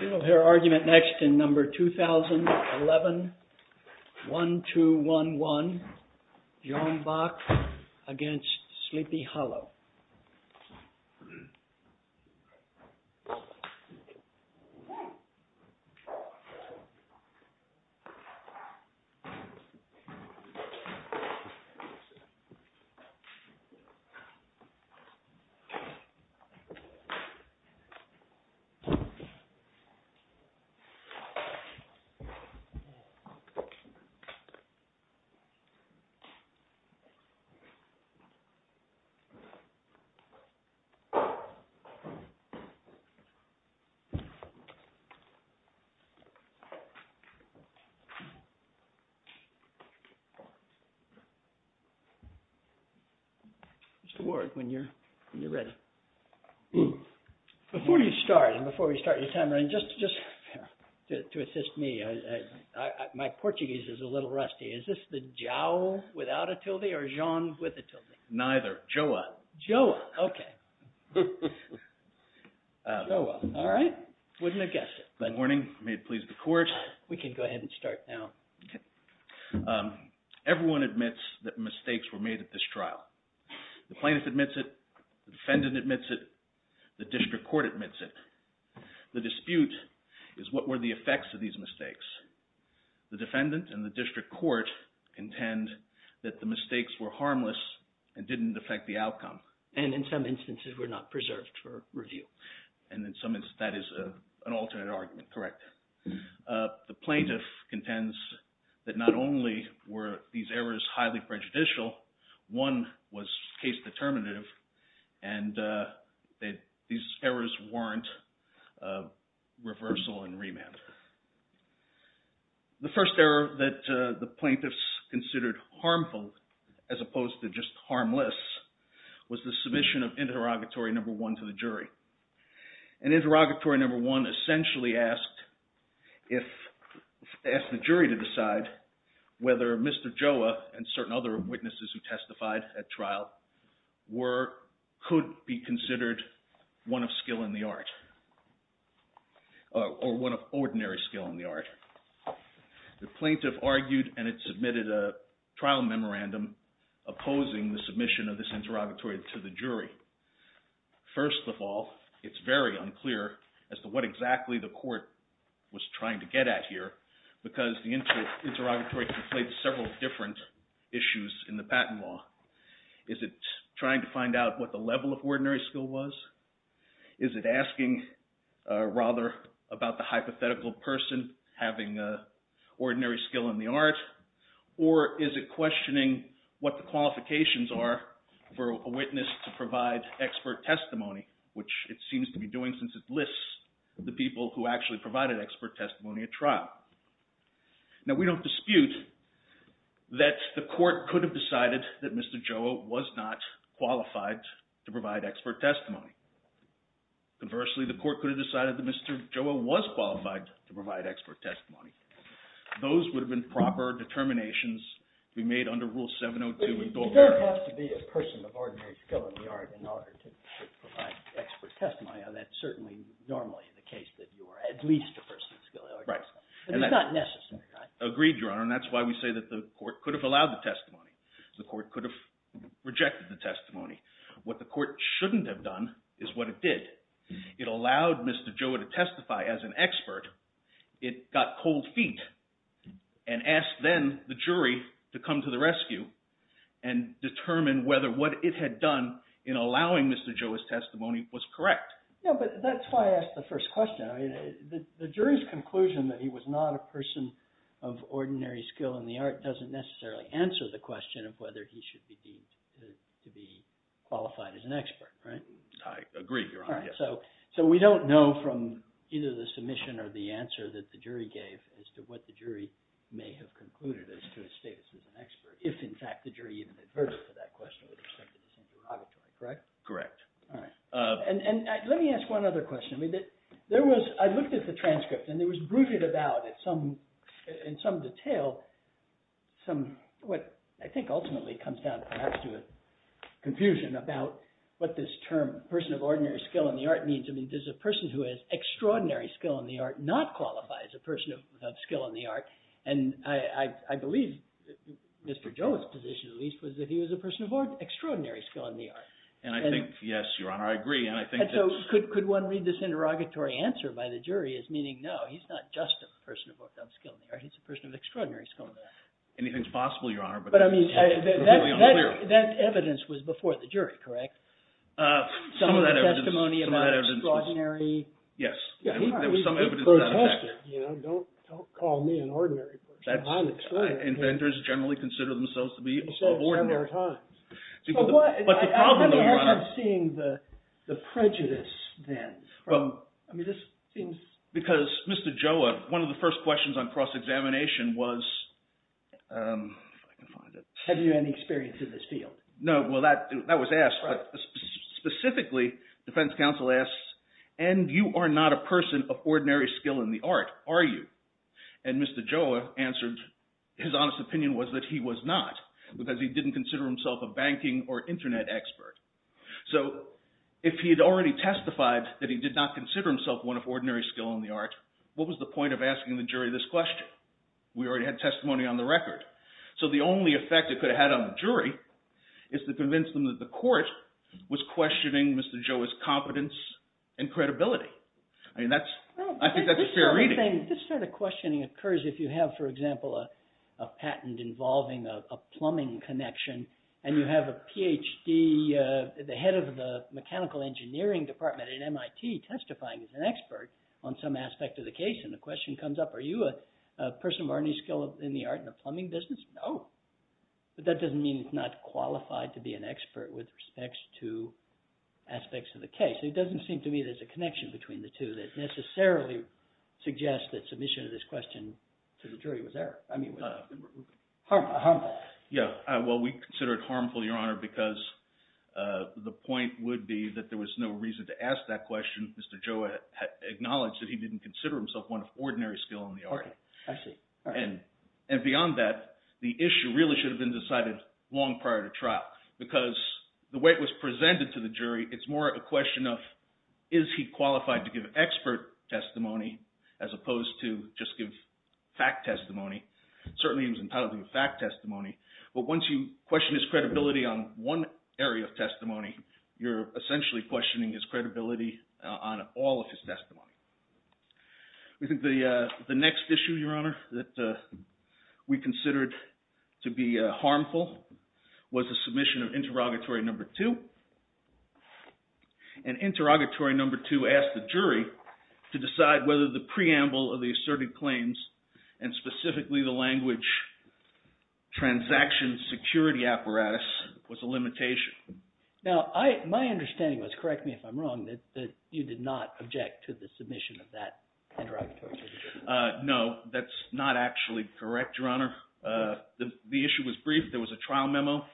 We will hear argument next in No. 2011-1211, JOAO BOCK v. SLEEPY HOLLOW. Mr. Warrick, when you're ready. Before you start, and before we start your time running, just to assist me, my Portuguese is a little rusty. Is this the Joe without a tilde or Jean with a tilde? Neither. JOA. JOA. Okay. JOA. All right. Wouldn't have guessed it. Good morning. May it please the Court. We can go ahead and start now. Okay. Everyone admits that mistakes were made at this trial. The plaintiff admits it, the defendant admits it, the district court admits it. The dispute is what were the effects of these mistakes. The defendant and the district court intend that the mistakes were harmless and didn't affect the outcome. And in some instances were not preserved for review. And in some instances that is an alternate argument. Correct. The plaintiff contends that not only were these errors highly prejudicial, one was case determinative, and these errors weren't reversal and remand. The first error that the plaintiffs considered harmful as opposed to just harmless was the submission of interrogatory number one to the jury. And interrogatory number one essentially asked the jury to decide whether Mr. Joa and certain other witnesses who testified at trial could be considered one of skill in the art or one of ordinary skill in the art. The plaintiff argued and it submitted a trial memorandum opposing the submission of this interrogatory to the jury. First of all, it's very unclear as to what exactly the court was trying to get at here because the interrogatory conflated several different issues in the patent law. Is it trying to find out what the level of ordinary skill was? Is it asking rather about the hypothetical person having ordinary skill in the art? Or is it questioning what the qualifications are for a witness to provide expert testimony, which it seems to be doing since it lists the people who actually provided expert testimony at trial. Now, we don't dispute that the court could have decided that Mr. Joa was not qualified to provide expert testimony. Conversely, the court could have decided that Mr. Joa was qualified to provide expert testimony. Those would have been proper determinations to be made under Rule 702. You don't have to be a person of ordinary skill in the art in order to provide expert testimony. That's certainly normally the case that you are at least a person of skill in the art. Right. But it's not necessary, right? Agreed, Your Honor, and that's why we say that the court could have allowed the testimony. The court could have rejected the testimony. What the court shouldn't have done is what it did. It allowed Mr. Joa to testify as an expert. It got cold feet and asked then the jury to come to the rescue and determine whether what it had done in allowing Mr. Joa's testimony was correct. Yeah, but that's why I asked the first question. The jury's conclusion that he was not a person of ordinary skill in the art doesn't necessarily answer the question of whether he should be deemed to be qualified as an expert, right? I agree, Your Honor. All right, so we don't know from either the submission or the answer that the jury gave as to what the jury may have concluded as to his status as an expert if, in fact, the jury even adverted to that question with respect to this interrogatory, correct? Correct. All right. And let me ask one other question. I looked at the transcript, and there was brooded about in some detail what I think ultimately comes down perhaps to a confusion about what this term, person of ordinary skill in the art, means. I mean, does a person who has extraordinary skill in the art not qualify as a person of skill in the art? And I believe Mr. Joa's position, at least, was that he was a person of extraordinary skill in the art. And I think, yes, Your Honor, I agree. And so could one read this interrogatory answer by the jury as meaning, no, he's not just a person of skill in the art. He's a person of extraordinary skill in the art. Anything's possible, Your Honor. But, I mean, that evidence was before the jury, correct? Some of that evidence was. Some of the testimony about extraordinary. Yes, there was some evidence of that. Don't call me an ordinary person. I'm extraordinary. Inventors generally consider themselves to be ordinary. But the problem, Your Honor. How do you end up seeing the prejudice then? I mean, this seems. Because Mr. Joa, one of the first questions on cross-examination was, if I can find it. Have you any experience in this field? No. Well, that was asked. Specifically, defense counsel asked, and you are not a person of ordinary skill in the art, are you? And Mr. Joa answered, his honest opinion was that he was not, because he didn't consider himself a banking or Internet expert. So if he had already testified that he did not consider himself one of ordinary skill in the art, what was the point of asking the jury this question? We already had testimony on the record. So the only effect it could have had on the jury is to convince them that the court was questioning Mr. Joa's competence and credibility. I mean, that's. I think that's a fair reading. This sort of questioning occurs if you have, for example, a patent involving a plumbing connection. And you have a PhD, the head of the mechanical engineering department at MIT testifying as an expert on some aspect of the case. And the question comes up, are you a person of ordinary skill in the art in the plumbing business? No. But that doesn't mean he's not qualified to be an expert with respects to aspects of the case. It doesn't seem to me there's a connection between the two that necessarily suggests that submission of this question to the jury was there. I mean, it was harmful. Yeah. Well, we consider it harmful, Your Honor, because the point would be that there was no reason to ask that question. Mr. Joa acknowledged that he didn't consider himself one of ordinary skill in the art. I see. And beyond that, the issue really should have been decided long prior to trial. Because the way it was presented to the jury, it's more a question of is he qualified to give expert testimony as opposed to just give fact testimony. Certainly he was entitled to a fact testimony. But once you question his credibility on one area of testimony, you're essentially questioning his credibility on all of his testimony. We think the next issue, Your Honor, that we considered to be harmful was the submission of interrogatory number two. And interrogatory number two asked the jury to decide whether the preamble of the asserted claims and specifically the language transaction security apparatus was a limitation. Now, my understanding was, correct me if I'm wrong, that you did not object to the submission of that interrogatory. No, that's not actually correct, Your Honor. The issue was brief. There was a trial memo.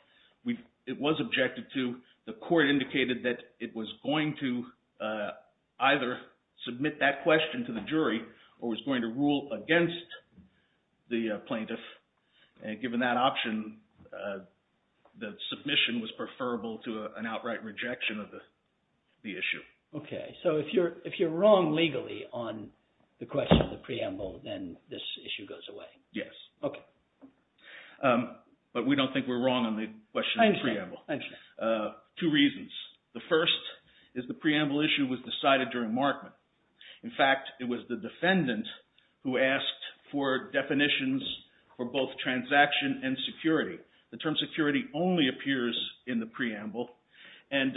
It was objected to. The court indicated that it was going to either submit that question to the jury or was going to rule against the plaintiff. And given that option, the submission was preferable to an outright rejection of the issue. Okay. So if you're wrong legally on the question of the preamble, then this issue goes away. Yes. Okay. Two reasons. The first is the preamble issue was decided during markment. In fact, it was the defendant who asked for definitions for both transaction and security. The term security only appears in the preamble. And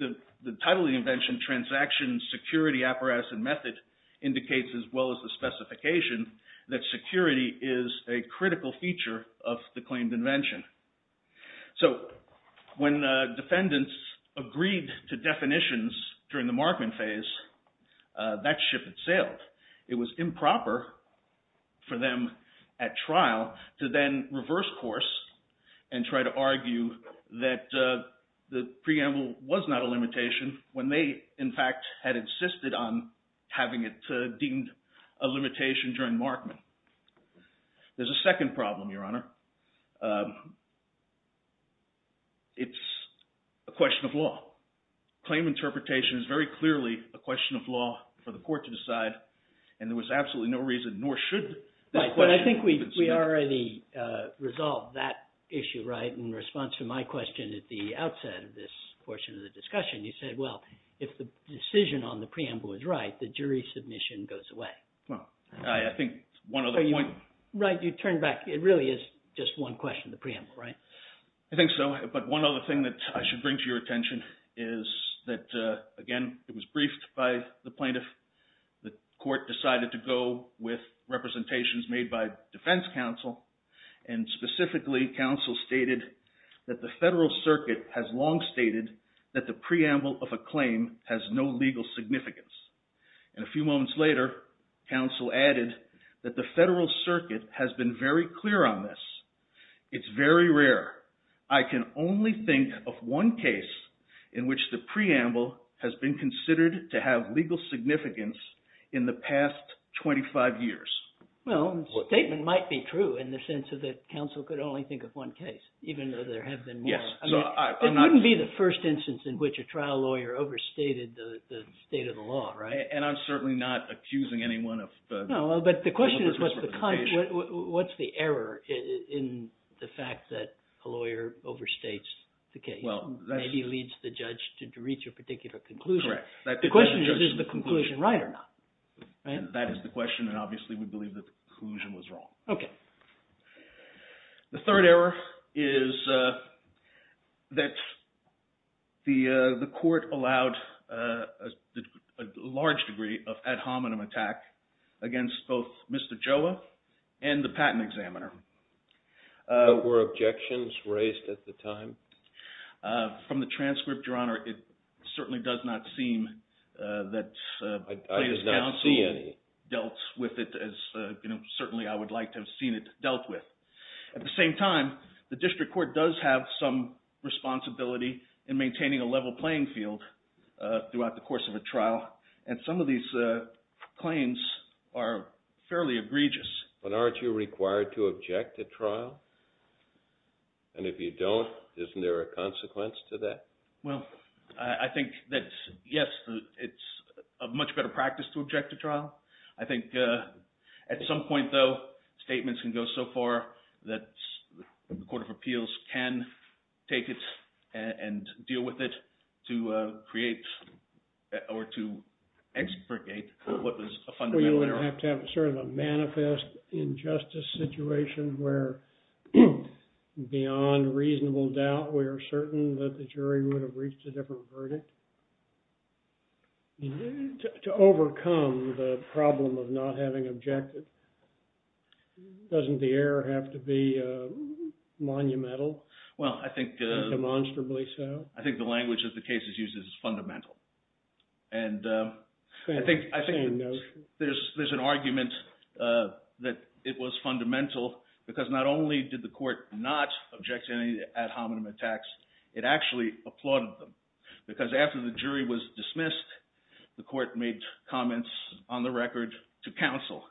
the title of the invention, Transaction Security Apparatus and Method, indicates as well as the specification that security is a critical feature of the claimed invention. So when defendants agreed to definitions during the markment phase, that ship had sailed. It was improper for them at trial to then reverse course and try to argue that the preamble was not a limitation when they, in fact, had insisted on having it deemed a limitation during markment. There's a second problem, Your Honor. It's a question of law. Claim interpretation is very clearly a question of law for the court to decide, and there was absolutely no reason, nor should this question be considered. Right, but I think we already resolved that issue, right? In response to my question at the outset of this portion of the discussion, you said, well, if the decision on the preamble is right, the jury submission goes away. Well, I think one other point… Right, you turned back. It really is just one question, the preamble, right? I think so, but one other thing that I should bring to your attention is that, again, it was briefed by the plaintiff. The court decided to go with representations made by defense counsel, and specifically counsel stated that the Federal Circuit has long stated that the preamble of a claim has no legal significance. And a few moments later, counsel added that the Federal Circuit has been very clear on this. It's very rare. I can only think of one case in which the preamble has been considered to have legal significance in the past 25 years. Well, the statement might be true in the sense that counsel could only think of one case, even though there have been more. It wouldn't be the first instance in which a trial lawyer overstated the state of the law, right? And I'm certainly not accusing anyone of… No, but the question is, what's the error in the fact that a lawyer overstates the case? Maybe leads the judge to reach a particular conclusion. Correct. The question is, is the conclusion right or not? That is the question, and obviously we believe that the conclusion was wrong. Okay. The third error is that the court allowed a large degree of ad hominem attack against both Mr. Joa and the patent examiner. Were objections raised at the time? From the transcript, Your Honor, it certainly does not seem that plaintiff's counsel… I did not see any. …dealt with it as certainly I would like to have seen it dealt with. At the same time, the district court does have some responsibility in maintaining a level playing field throughout the course of a trial, and some of these claims are fairly egregious. But aren't you required to object to trial? And if you don't, isn't there a consequence to that? Well, I think that, yes, it's a much better practice to object to trial. I think at some point, though, statements can go so far that the Court of Appeals can take it and deal with it to create or to expurgate what was a fundamental error. Doesn't it have to have sort of a manifest injustice situation where, beyond reasonable doubt, we are certain that the jury would have reached a different verdict? To overcome the problem of not having objected, doesn't the error have to be monumental? Well, I think… Demonstrably so? I think the language that the case uses is fundamental. And I think… Same notion. I think there's an argument that it was fundamental because not only did the court not object to any ad hominem attacks, it actually applauded them. Because after the jury was dismissed, the court made comments on the record to counsel.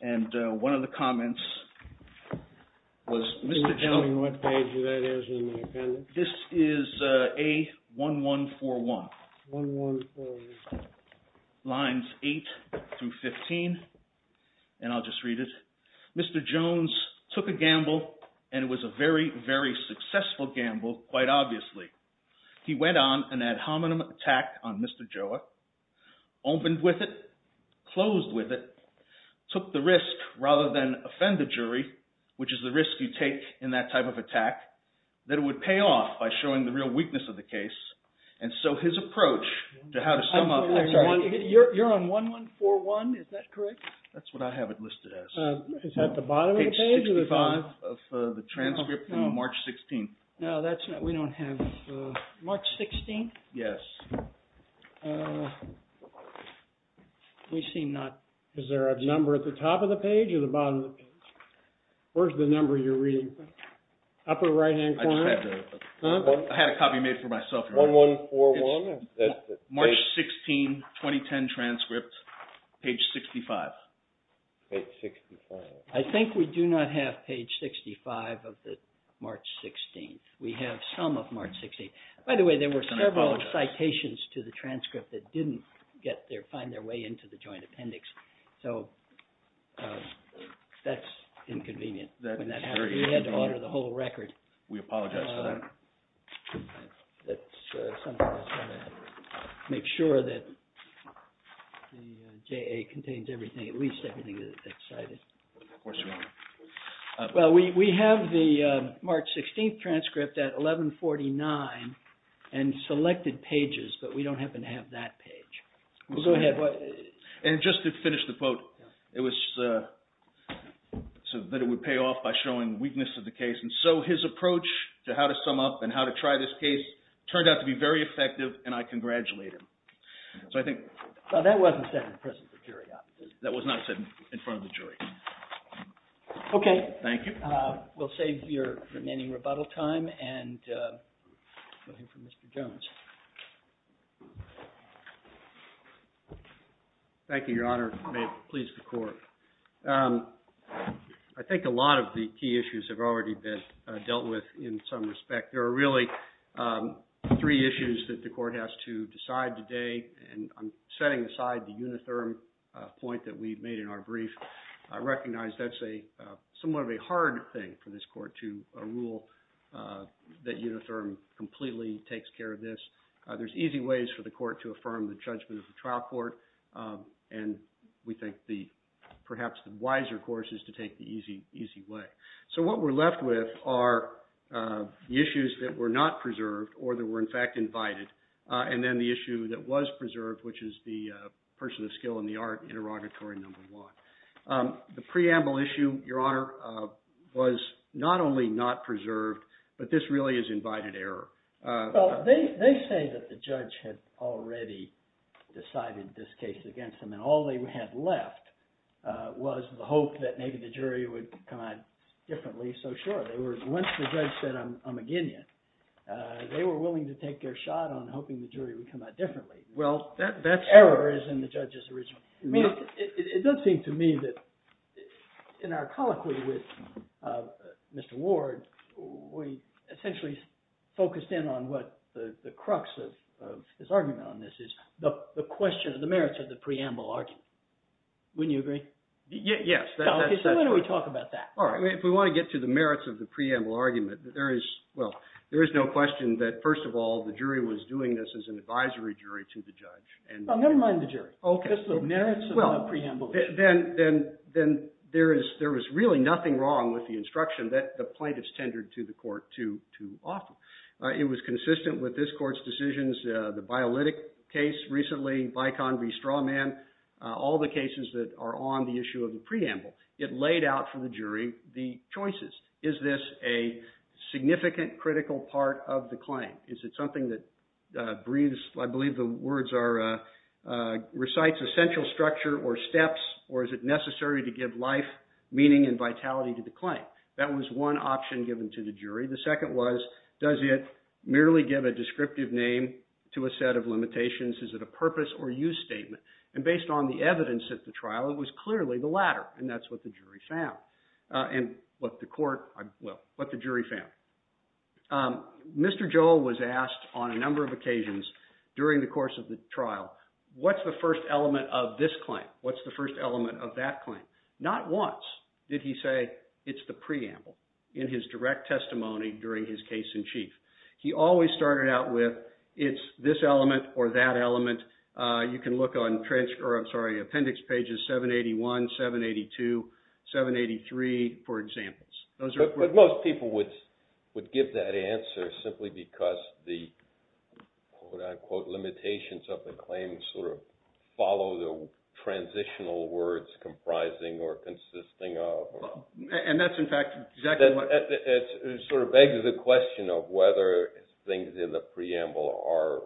And one of the comments was, Mr. Chairman, what page is that in the appendix? This is A1141. 1141. Lines 8 through 15, and I'll just read it. Mr. Jones took a gamble, and it was a very, very successful gamble, quite obviously. He went on an ad hominem attack on Mr. Joa, opened with it, closed with it, took the risk rather than offend the jury, which is the risk you take in that type of attack, that it would pay off by showing the real weakness of the case. And so his approach to how to sum up… You're on 1141. Is that correct? That's what I have it listed as. Is that the bottom of the page? Page 65 of the transcript from March 16th. No, that's not… We don't have… March 16th? Yes. We seem not… Is there a number at the top of the page or the bottom of the page? Where's the number you're reading from? Upper right-hand corner? I had a copy made for myself. 1141? March 16, 2010 transcript, page 65. Page 65. I think we do not have page 65 of the March 16th. We have some of March 16th. By the way, there were several citations to the transcript that didn't find their way into the joint appendix. So that's inconvenient. We had to order the whole record. We apologize for that. Let's make sure that the JA contains everything, at least everything that's cited. Of course, Your Honor. Well, we have the March 16th transcript at 1149 and selected pages, but we don't happen to have that page. Go ahead. And just to finish the quote, it was… So that it would pay off by showing weakness of the case. And so his approach to how to sum up and how to try this case turned out to be very effective, and I congratulate him. So I think… Well, that wasn't said in prison for curiosity. That was not said in front of the jury. Okay. Thank you. We'll save your remaining rebuttal time and go to Mr. Jones. Thank you, Your Honor. May it please the Court. I think a lot of the key issues have already been dealt with in some respect. There are really three issues that the Court has to decide today, and I'm setting aside the unitherm point that we made in our brief. I recognize that's a somewhat of a hard thing for this Court to rule that unitherm completely takes care of this. There's easy ways for the Court to affirm the judgment of the trial court, and we think perhaps the wiser course is to take the easy way. So what we're left with are the issues that were not preserved or that were in fact invited, and then the issue that was preserved, which is the person of skill in the art interrogatory number one. The preamble issue, Your Honor, was not only not preserved, but this really is invited error. Well, they say that the judge had already decided this case against them, and all they had left was the hope that maybe the jury would come out differently. So sure, they were – once the judge said, I'm a guinea, they were willing to take their shot on hoping the jury would come out differently. Well, that's – Error is in the judge's original – It does seem to me that in our colloquy with Mr. Ward, we essentially focused in on what the crux of this argument on this is, the question of the merits of the preamble argument. Wouldn't you agree? Yes. So why don't we talk about that? All right. If we want to get to the merits of the preamble argument, there is – well, there is no question that first of all, the jury was doing this as an advisory jury to the judge. Well, never mind the jury. Okay. Just the merits of the preamble. Then there is really nothing wrong with the instruction that the plaintiffs tendered to the court too often. It was consistent with this court's decisions, the Bialytic case recently, Bicon v. Strawman, all the cases that are on the issue of the preamble. It laid out for the jury the choices. Is this a significant, critical part of the claim? Is it something that breathes – I believe the words are – recites essential structure or steps, or is it necessary to give life, meaning, and vitality to the claim? That was one option given to the jury. The second was, does it merely give a descriptive name to a set of limitations? Is it a purpose or use statement? And based on the evidence at the trial, it was clearly the latter, and that's what the jury found. And what the court – well, what the jury found. Mr. Joel was asked on a number of occasions during the course of the trial, what's the first element of this claim? What's the first element of that claim? Not once did he say it's the preamble in his direct testimony during his case in chief. He always started out with it's this element or that element. You can look on – or I'm sorry, appendix pages 781, 782, 783 for examples. But most people would give that answer simply because the, quote-unquote, limitations of the claim sort of follow the transitional words comprising or consisting of. And that's, in fact, exactly what – It sort of begs the question of whether things in the preamble are,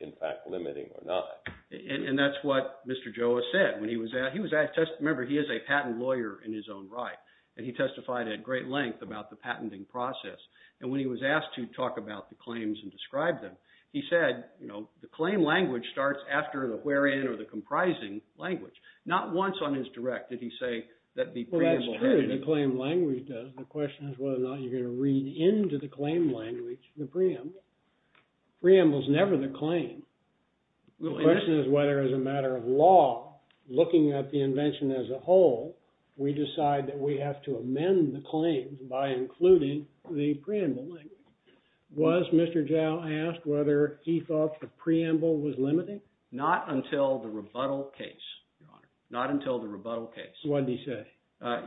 in fact, limiting or not. And that's what Mr. Joel said. Remember, he is a patent lawyer in his own right, and he testified at great length about the patenting process. And when he was asked to talk about the claims and describe them, he said the claim language starts after the wherein or the comprising language. Not once on his direct did he say that the preamble – Well, that's true, the claim language does. The question is whether or not you're going to read into the claim language, the preamble. The preamble is never the claim. The question is whether, as a matter of law, looking at the invention as a whole, we decide that we have to amend the claims by including the preamble language. Was Mr. Zhao asked whether he thought the preamble was limiting? Not until the rebuttal case, Your Honor. Not until the rebuttal case. What did he say?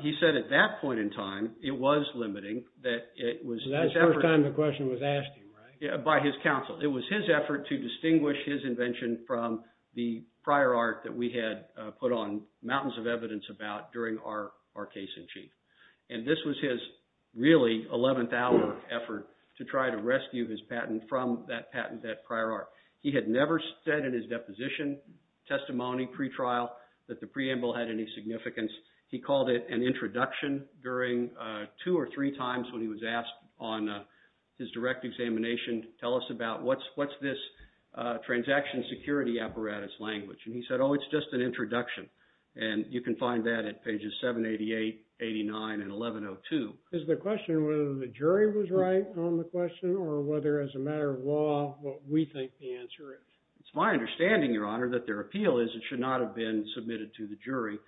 He said at that point in time it was limiting, that it was – That's the first time the question was asked of him, right? By his counsel. It was his effort to distinguish his invention from the prior art that we had put on mountains of evidence about during our case in chief. And this was his really 11th hour effort to try to rescue his patent from that patent, that prior art. He had never said in his deposition, testimony, pretrial, that the preamble had any significance. He called it an introduction during two or three times when he was asked on his direct examination, tell us about what's this transaction security apparatus language? And he said, oh, it's just an introduction. And you can find that at pages 788, 89, and 1102. Is the question whether the jury was right on the question or whether, as a matter of law, what we think the answer is? It's my understanding, Your Honor, that their appeal is it should not have been submitted to the jury.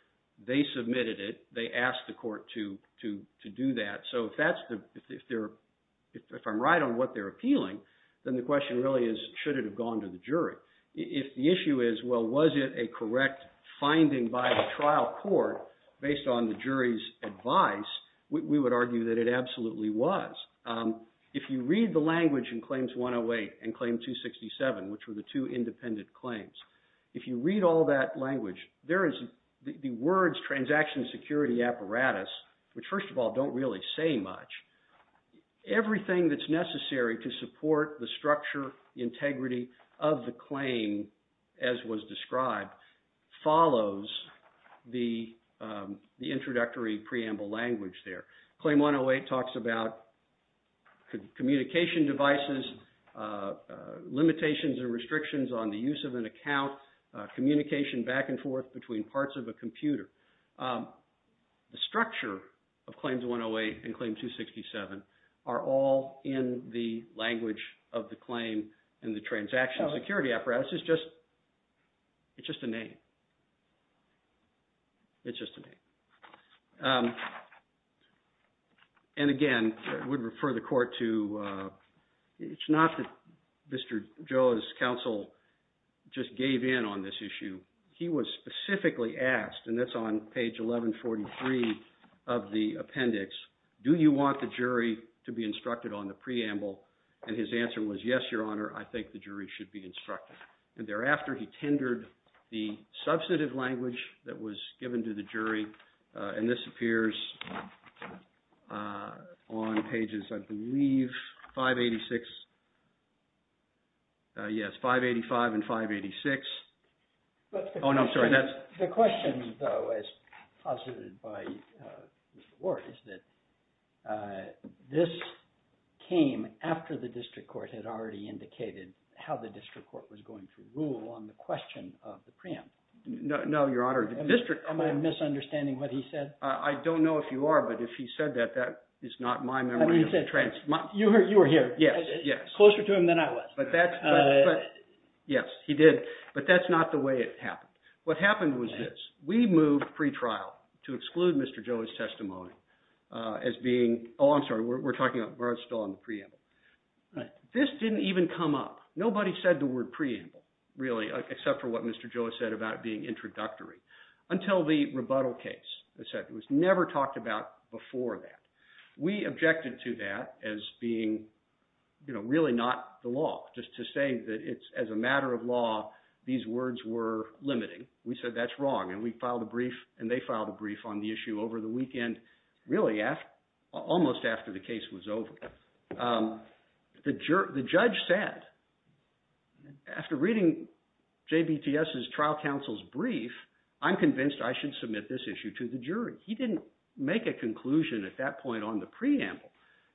They submitted it. They asked the court to do that. So if I'm right on what they're appealing, then the question really is should it have gone to the jury? If the issue is, well, was it a correct finding by the trial court based on the jury's advice, we would argue that it absolutely was. If you read the language in Claims 108 and Claim 267, which were the two independent claims, if you read all that language, there is the words transaction security apparatus, which, first of all, don't really say much. Everything that's necessary to support the structure, integrity of the claim, as was described, follows the introductory preamble language there. Claim 108 talks about communication devices, limitations and restrictions on the use of an account, communication back and forth between parts of a computer. The structure of Claims 108 and Claim 267 are all in the language of the claim and the transaction security apparatus. It's just a name. It's just a name. And again, I would refer the court to – it's not that Mr. Joe's counsel just gave in on this issue. He was specifically asked, and that's on page 1143 of the appendix, do you want the jury to be instructed on the preamble? And his answer was, yes, Your Honor, I think the jury should be instructed. And thereafter, he tendered the substantive language that was given to the jury, and this appears on pages, I believe, 586 – yes, 585 and 586. Oh, no, I'm sorry. The question, though, as posited by Mr. Ward is that this came after the district court had already indicated how the district court was going to rule on the question of the preamble. No, Your Honor. Am I misunderstanding what he said? I don't know if you are, but if he said that, that is not my memory. You were here. Yes, yes. Closer to him than I was. Yes, he did, but that's not the way it happened. What happened was this. We moved pretrial to exclude Mr. Joe's testimony as being – oh, I'm sorry. We're talking about – we're still on the preamble. This didn't even come up. Nobody said the word preamble, really, except for what Mr. Joe said about it being introductory until the rebuttal case. It was never talked about before that. We objected to that as being really not the law, just to say that it's – as a matter of law, these words were limiting. We said that's wrong, and we filed a brief, and they filed a brief on the issue over the weekend, really almost after the case was over. The judge said, after reading JBTS's trial counsel's brief, I'm convinced I should submit this issue to the jury. He didn't make a conclusion at that point on the preamble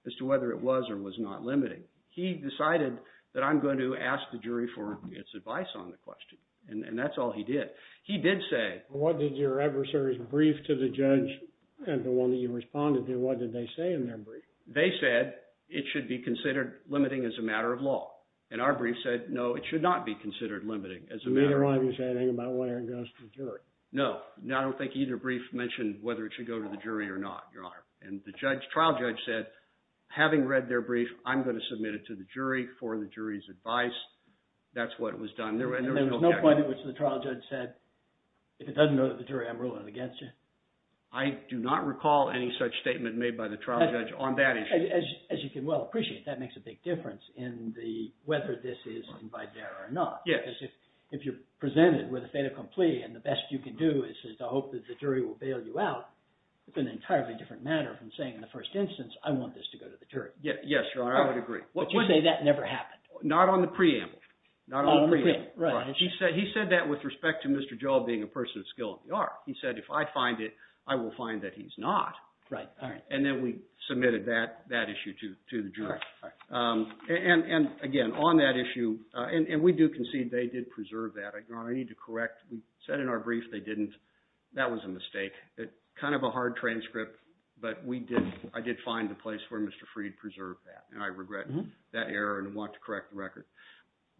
as to whether it was or was not limiting. He decided that I'm going to ask the jury for its advice on the question, and that's all he did. He did say – What did your adversary's brief to the judge and the one that you responded to, what did they say in their brief? They said it should be considered limiting as a matter of law, and our brief said, no, it should not be considered limiting as a matter of law. Neither one of you said anything about whether it goes to the jury. No. I don't think either brief mentioned whether it should go to the jury or not, Your Honor. And the trial judge said, having read their brief, I'm going to submit it to the jury for the jury's advice. That's what was done. There was no point at which the trial judge said, if it doesn't go to the jury, I'm ruling it against you. I do not recall any such statement made by the trial judge on that issue. As you can well appreciate, that makes a big difference in the – whether this is invited error or not. Yes. Because if you're presented with a fait accompli and the best you can do is to hope that the jury will bail you out, it's an entirely different matter from saying in the first instance, I want this to go to the jury. Yes, Your Honor. I would agree. But you say that never happened. Not on the preamble. Not on the preamble. Right. He said that with respect to Mr. Joel being a person of skill in the art. He said, if I find it, I will find that he's not. Right. All right. And then we submitted that issue to the jury. All right. And, again, on that issue – and we do concede they did preserve that. Your Honor, I need to correct. We said in our brief they didn't. That was a mistake. Kind of a hard transcript, but we did – I did find a place where Mr. Freed preserved that, and I regret that error and want to correct the record.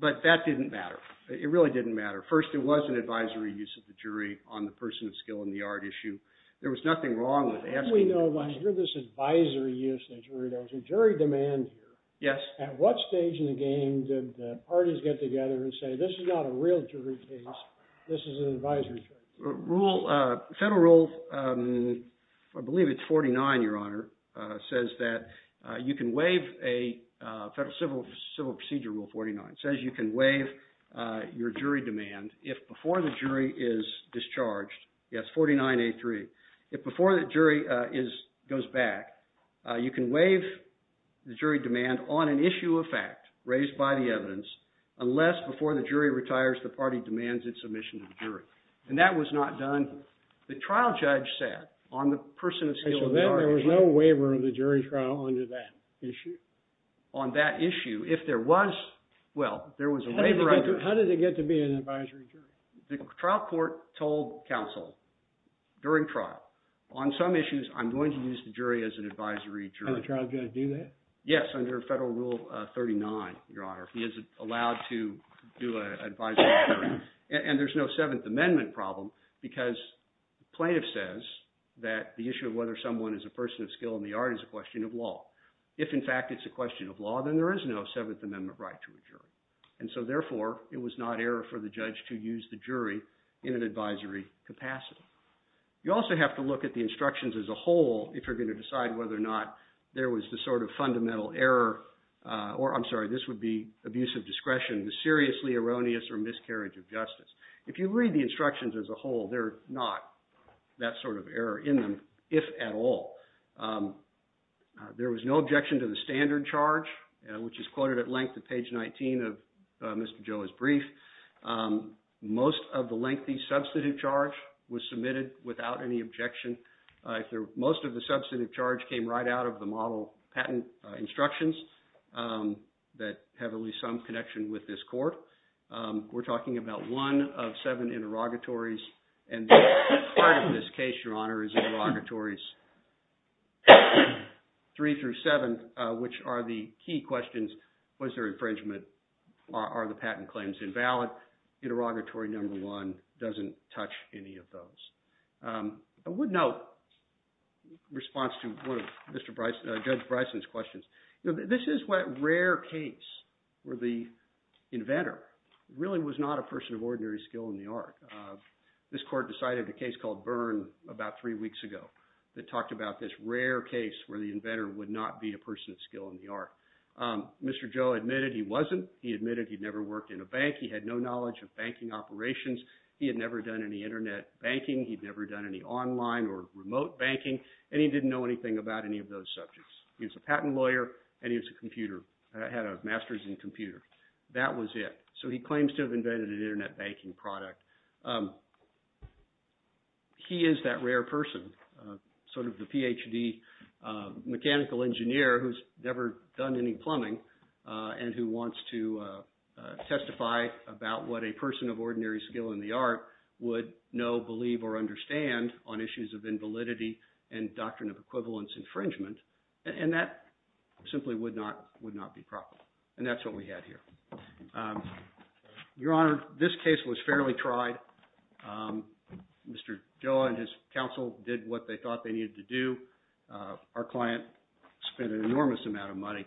But that didn't matter. It really didn't matter. First, it was an advisory use of the jury on the person of skill in the art issue. There was nothing wrong with asking – Yes? At what stage in the game did the parties get together and say, this is not a real jury case, this is an advisory case? Rule – federal rule, I believe it's 49, Your Honor, says that you can waive a federal civil procedure rule, 49. It says you can waive your jury demand if before the jury is discharged. Yes, 49A3. If before the jury goes back, you can waive the jury demand on an issue of fact raised by the evidence unless before the jury retires, the party demands its submission to the jury. And that was not done – the trial judge sat on the person of skill in the art issue. So then there was no waiver of the jury trial under that issue? On that issue, if there was – well, there was a waiver under – How did it get to be an advisory jury? The trial court told counsel during trial, on some issues, I'm going to use the jury as an advisory jury. Can a trial judge do that? Yes, under federal rule 39, Your Honor. He is allowed to do an advisory jury. And there's no Seventh Amendment problem because plaintiff says that the issue of whether someone is a person of skill in the art is a question of law. If, in fact, it's a question of law, then there is no Seventh Amendment right to a jury. And so, therefore, it was not error for the judge to use the jury in an advisory capacity. You also have to look at the instructions as a whole if you're going to decide whether or not there was the sort of fundamental error – or, I'm sorry, this would be abuse of discretion, the seriously erroneous or miscarriage of justice. If you read the instructions as a whole, they're not that sort of error in them, if at all. There was no objection to the standard charge, which is quoted at length at page 19 of Mr. Joe's brief. Most of the lengthy substantive charge was submitted without any objection. Most of the substantive charge came right out of the model patent instructions that have at least some connection with this court. We're talking about one of seven interrogatories, and part of this case, Your Honor, is interrogatories three through seven, which are the key questions. Was there infringement? Are the patent claims invalid? Interrogatory number one doesn't touch any of those. I would note in response to one of Judge Bryson's questions, this is a rare case where the inventor really was not a person of ordinary skill in the art. This court decided a case called Byrne about three weeks ago that talked about this rare case where the inventor would not be a person of skill in the art. Mr. Joe admitted he wasn't. He admitted he'd never worked in a bank. He had no knowledge of banking operations. He had never done any internet banking. He'd never done any online or remote banking, and he didn't know anything about any of those subjects. He was a patent lawyer, and he had a master's in computer. That was it. So he claims to have invented an internet banking product. He is that rare person, sort of the Ph.D. mechanical engineer who's never done any plumbing and who wants to testify about what a person of ordinary skill in the art would know, believe, or understand on issues of invalidity and doctrine of equivalence infringement. And that simply would not be proper, and that's what we had here. Your Honor, this case was fairly tried. Mr. Joe and his counsel did what they thought they needed to do. Our client spent an enormous amount of money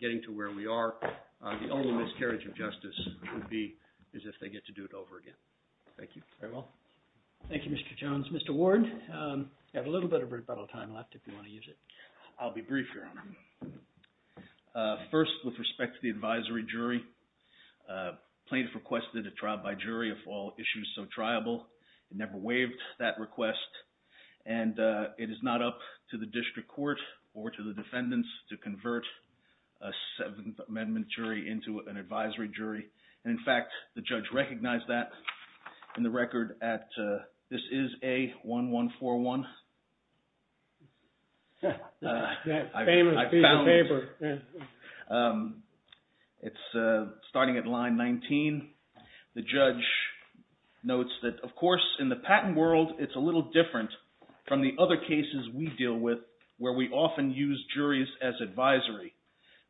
getting to where we are. The only miscarriage of justice would be is if they get to do it over again. Thank you. Very well. Thank you, Mr. Jones. Mr. Ward, you have a little bit of rebuttal time left if you want to use it. I'll be brief, Your Honor. First, with respect to the advisory jury, plaintiff requested a trial by jury of all issues so triable. It never waived that request, and it is not up to the district court or to the defendants to convert a Seventh Amendment jury into an advisory jury. In fact, the judge recognized that in the record at – this is A1141. I found it. It's starting at line 19. The judge notes that, of course, in the patent world, it's a little different from the other cases we deal with where we often use juries as advisory.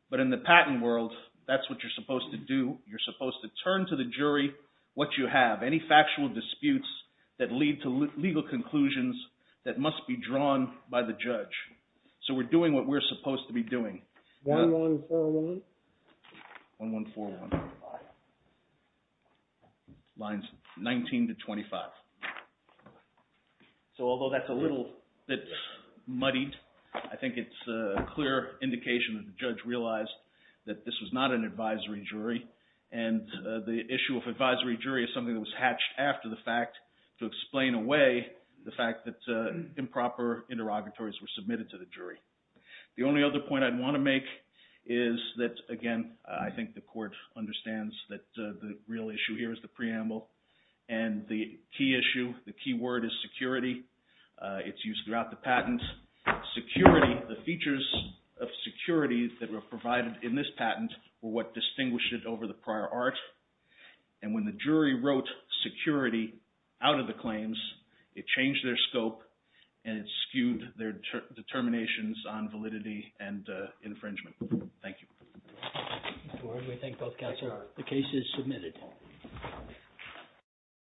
But in the patent world, that's what you're supposed to do. You're supposed to turn to the jury what you have, any factual disputes that lead to legal conclusions that must be drawn by the judge. So we're doing what we're supposed to be doing. A1141. Lines 19 to 25. So although that's a little bit muddied, I think it's a clear indication that the judge realized that this was not an advisory jury. And the issue of advisory jury is something that was hatched after the fact to explain away the fact that improper interrogatories were submitted to the jury. The only other point I'd want to make is that, again, I think the court understands that the real issue here is the preamble. And the key issue, the key word is security. It's used throughout the patent. Security, the features of security that were provided in this patent were what distinguished it over the prior art. And when the jury wrote security out of the claims, it changed their scope and it skewed their determinations on validity and infringement. Thank you. We thank both counsel. The case is submitted.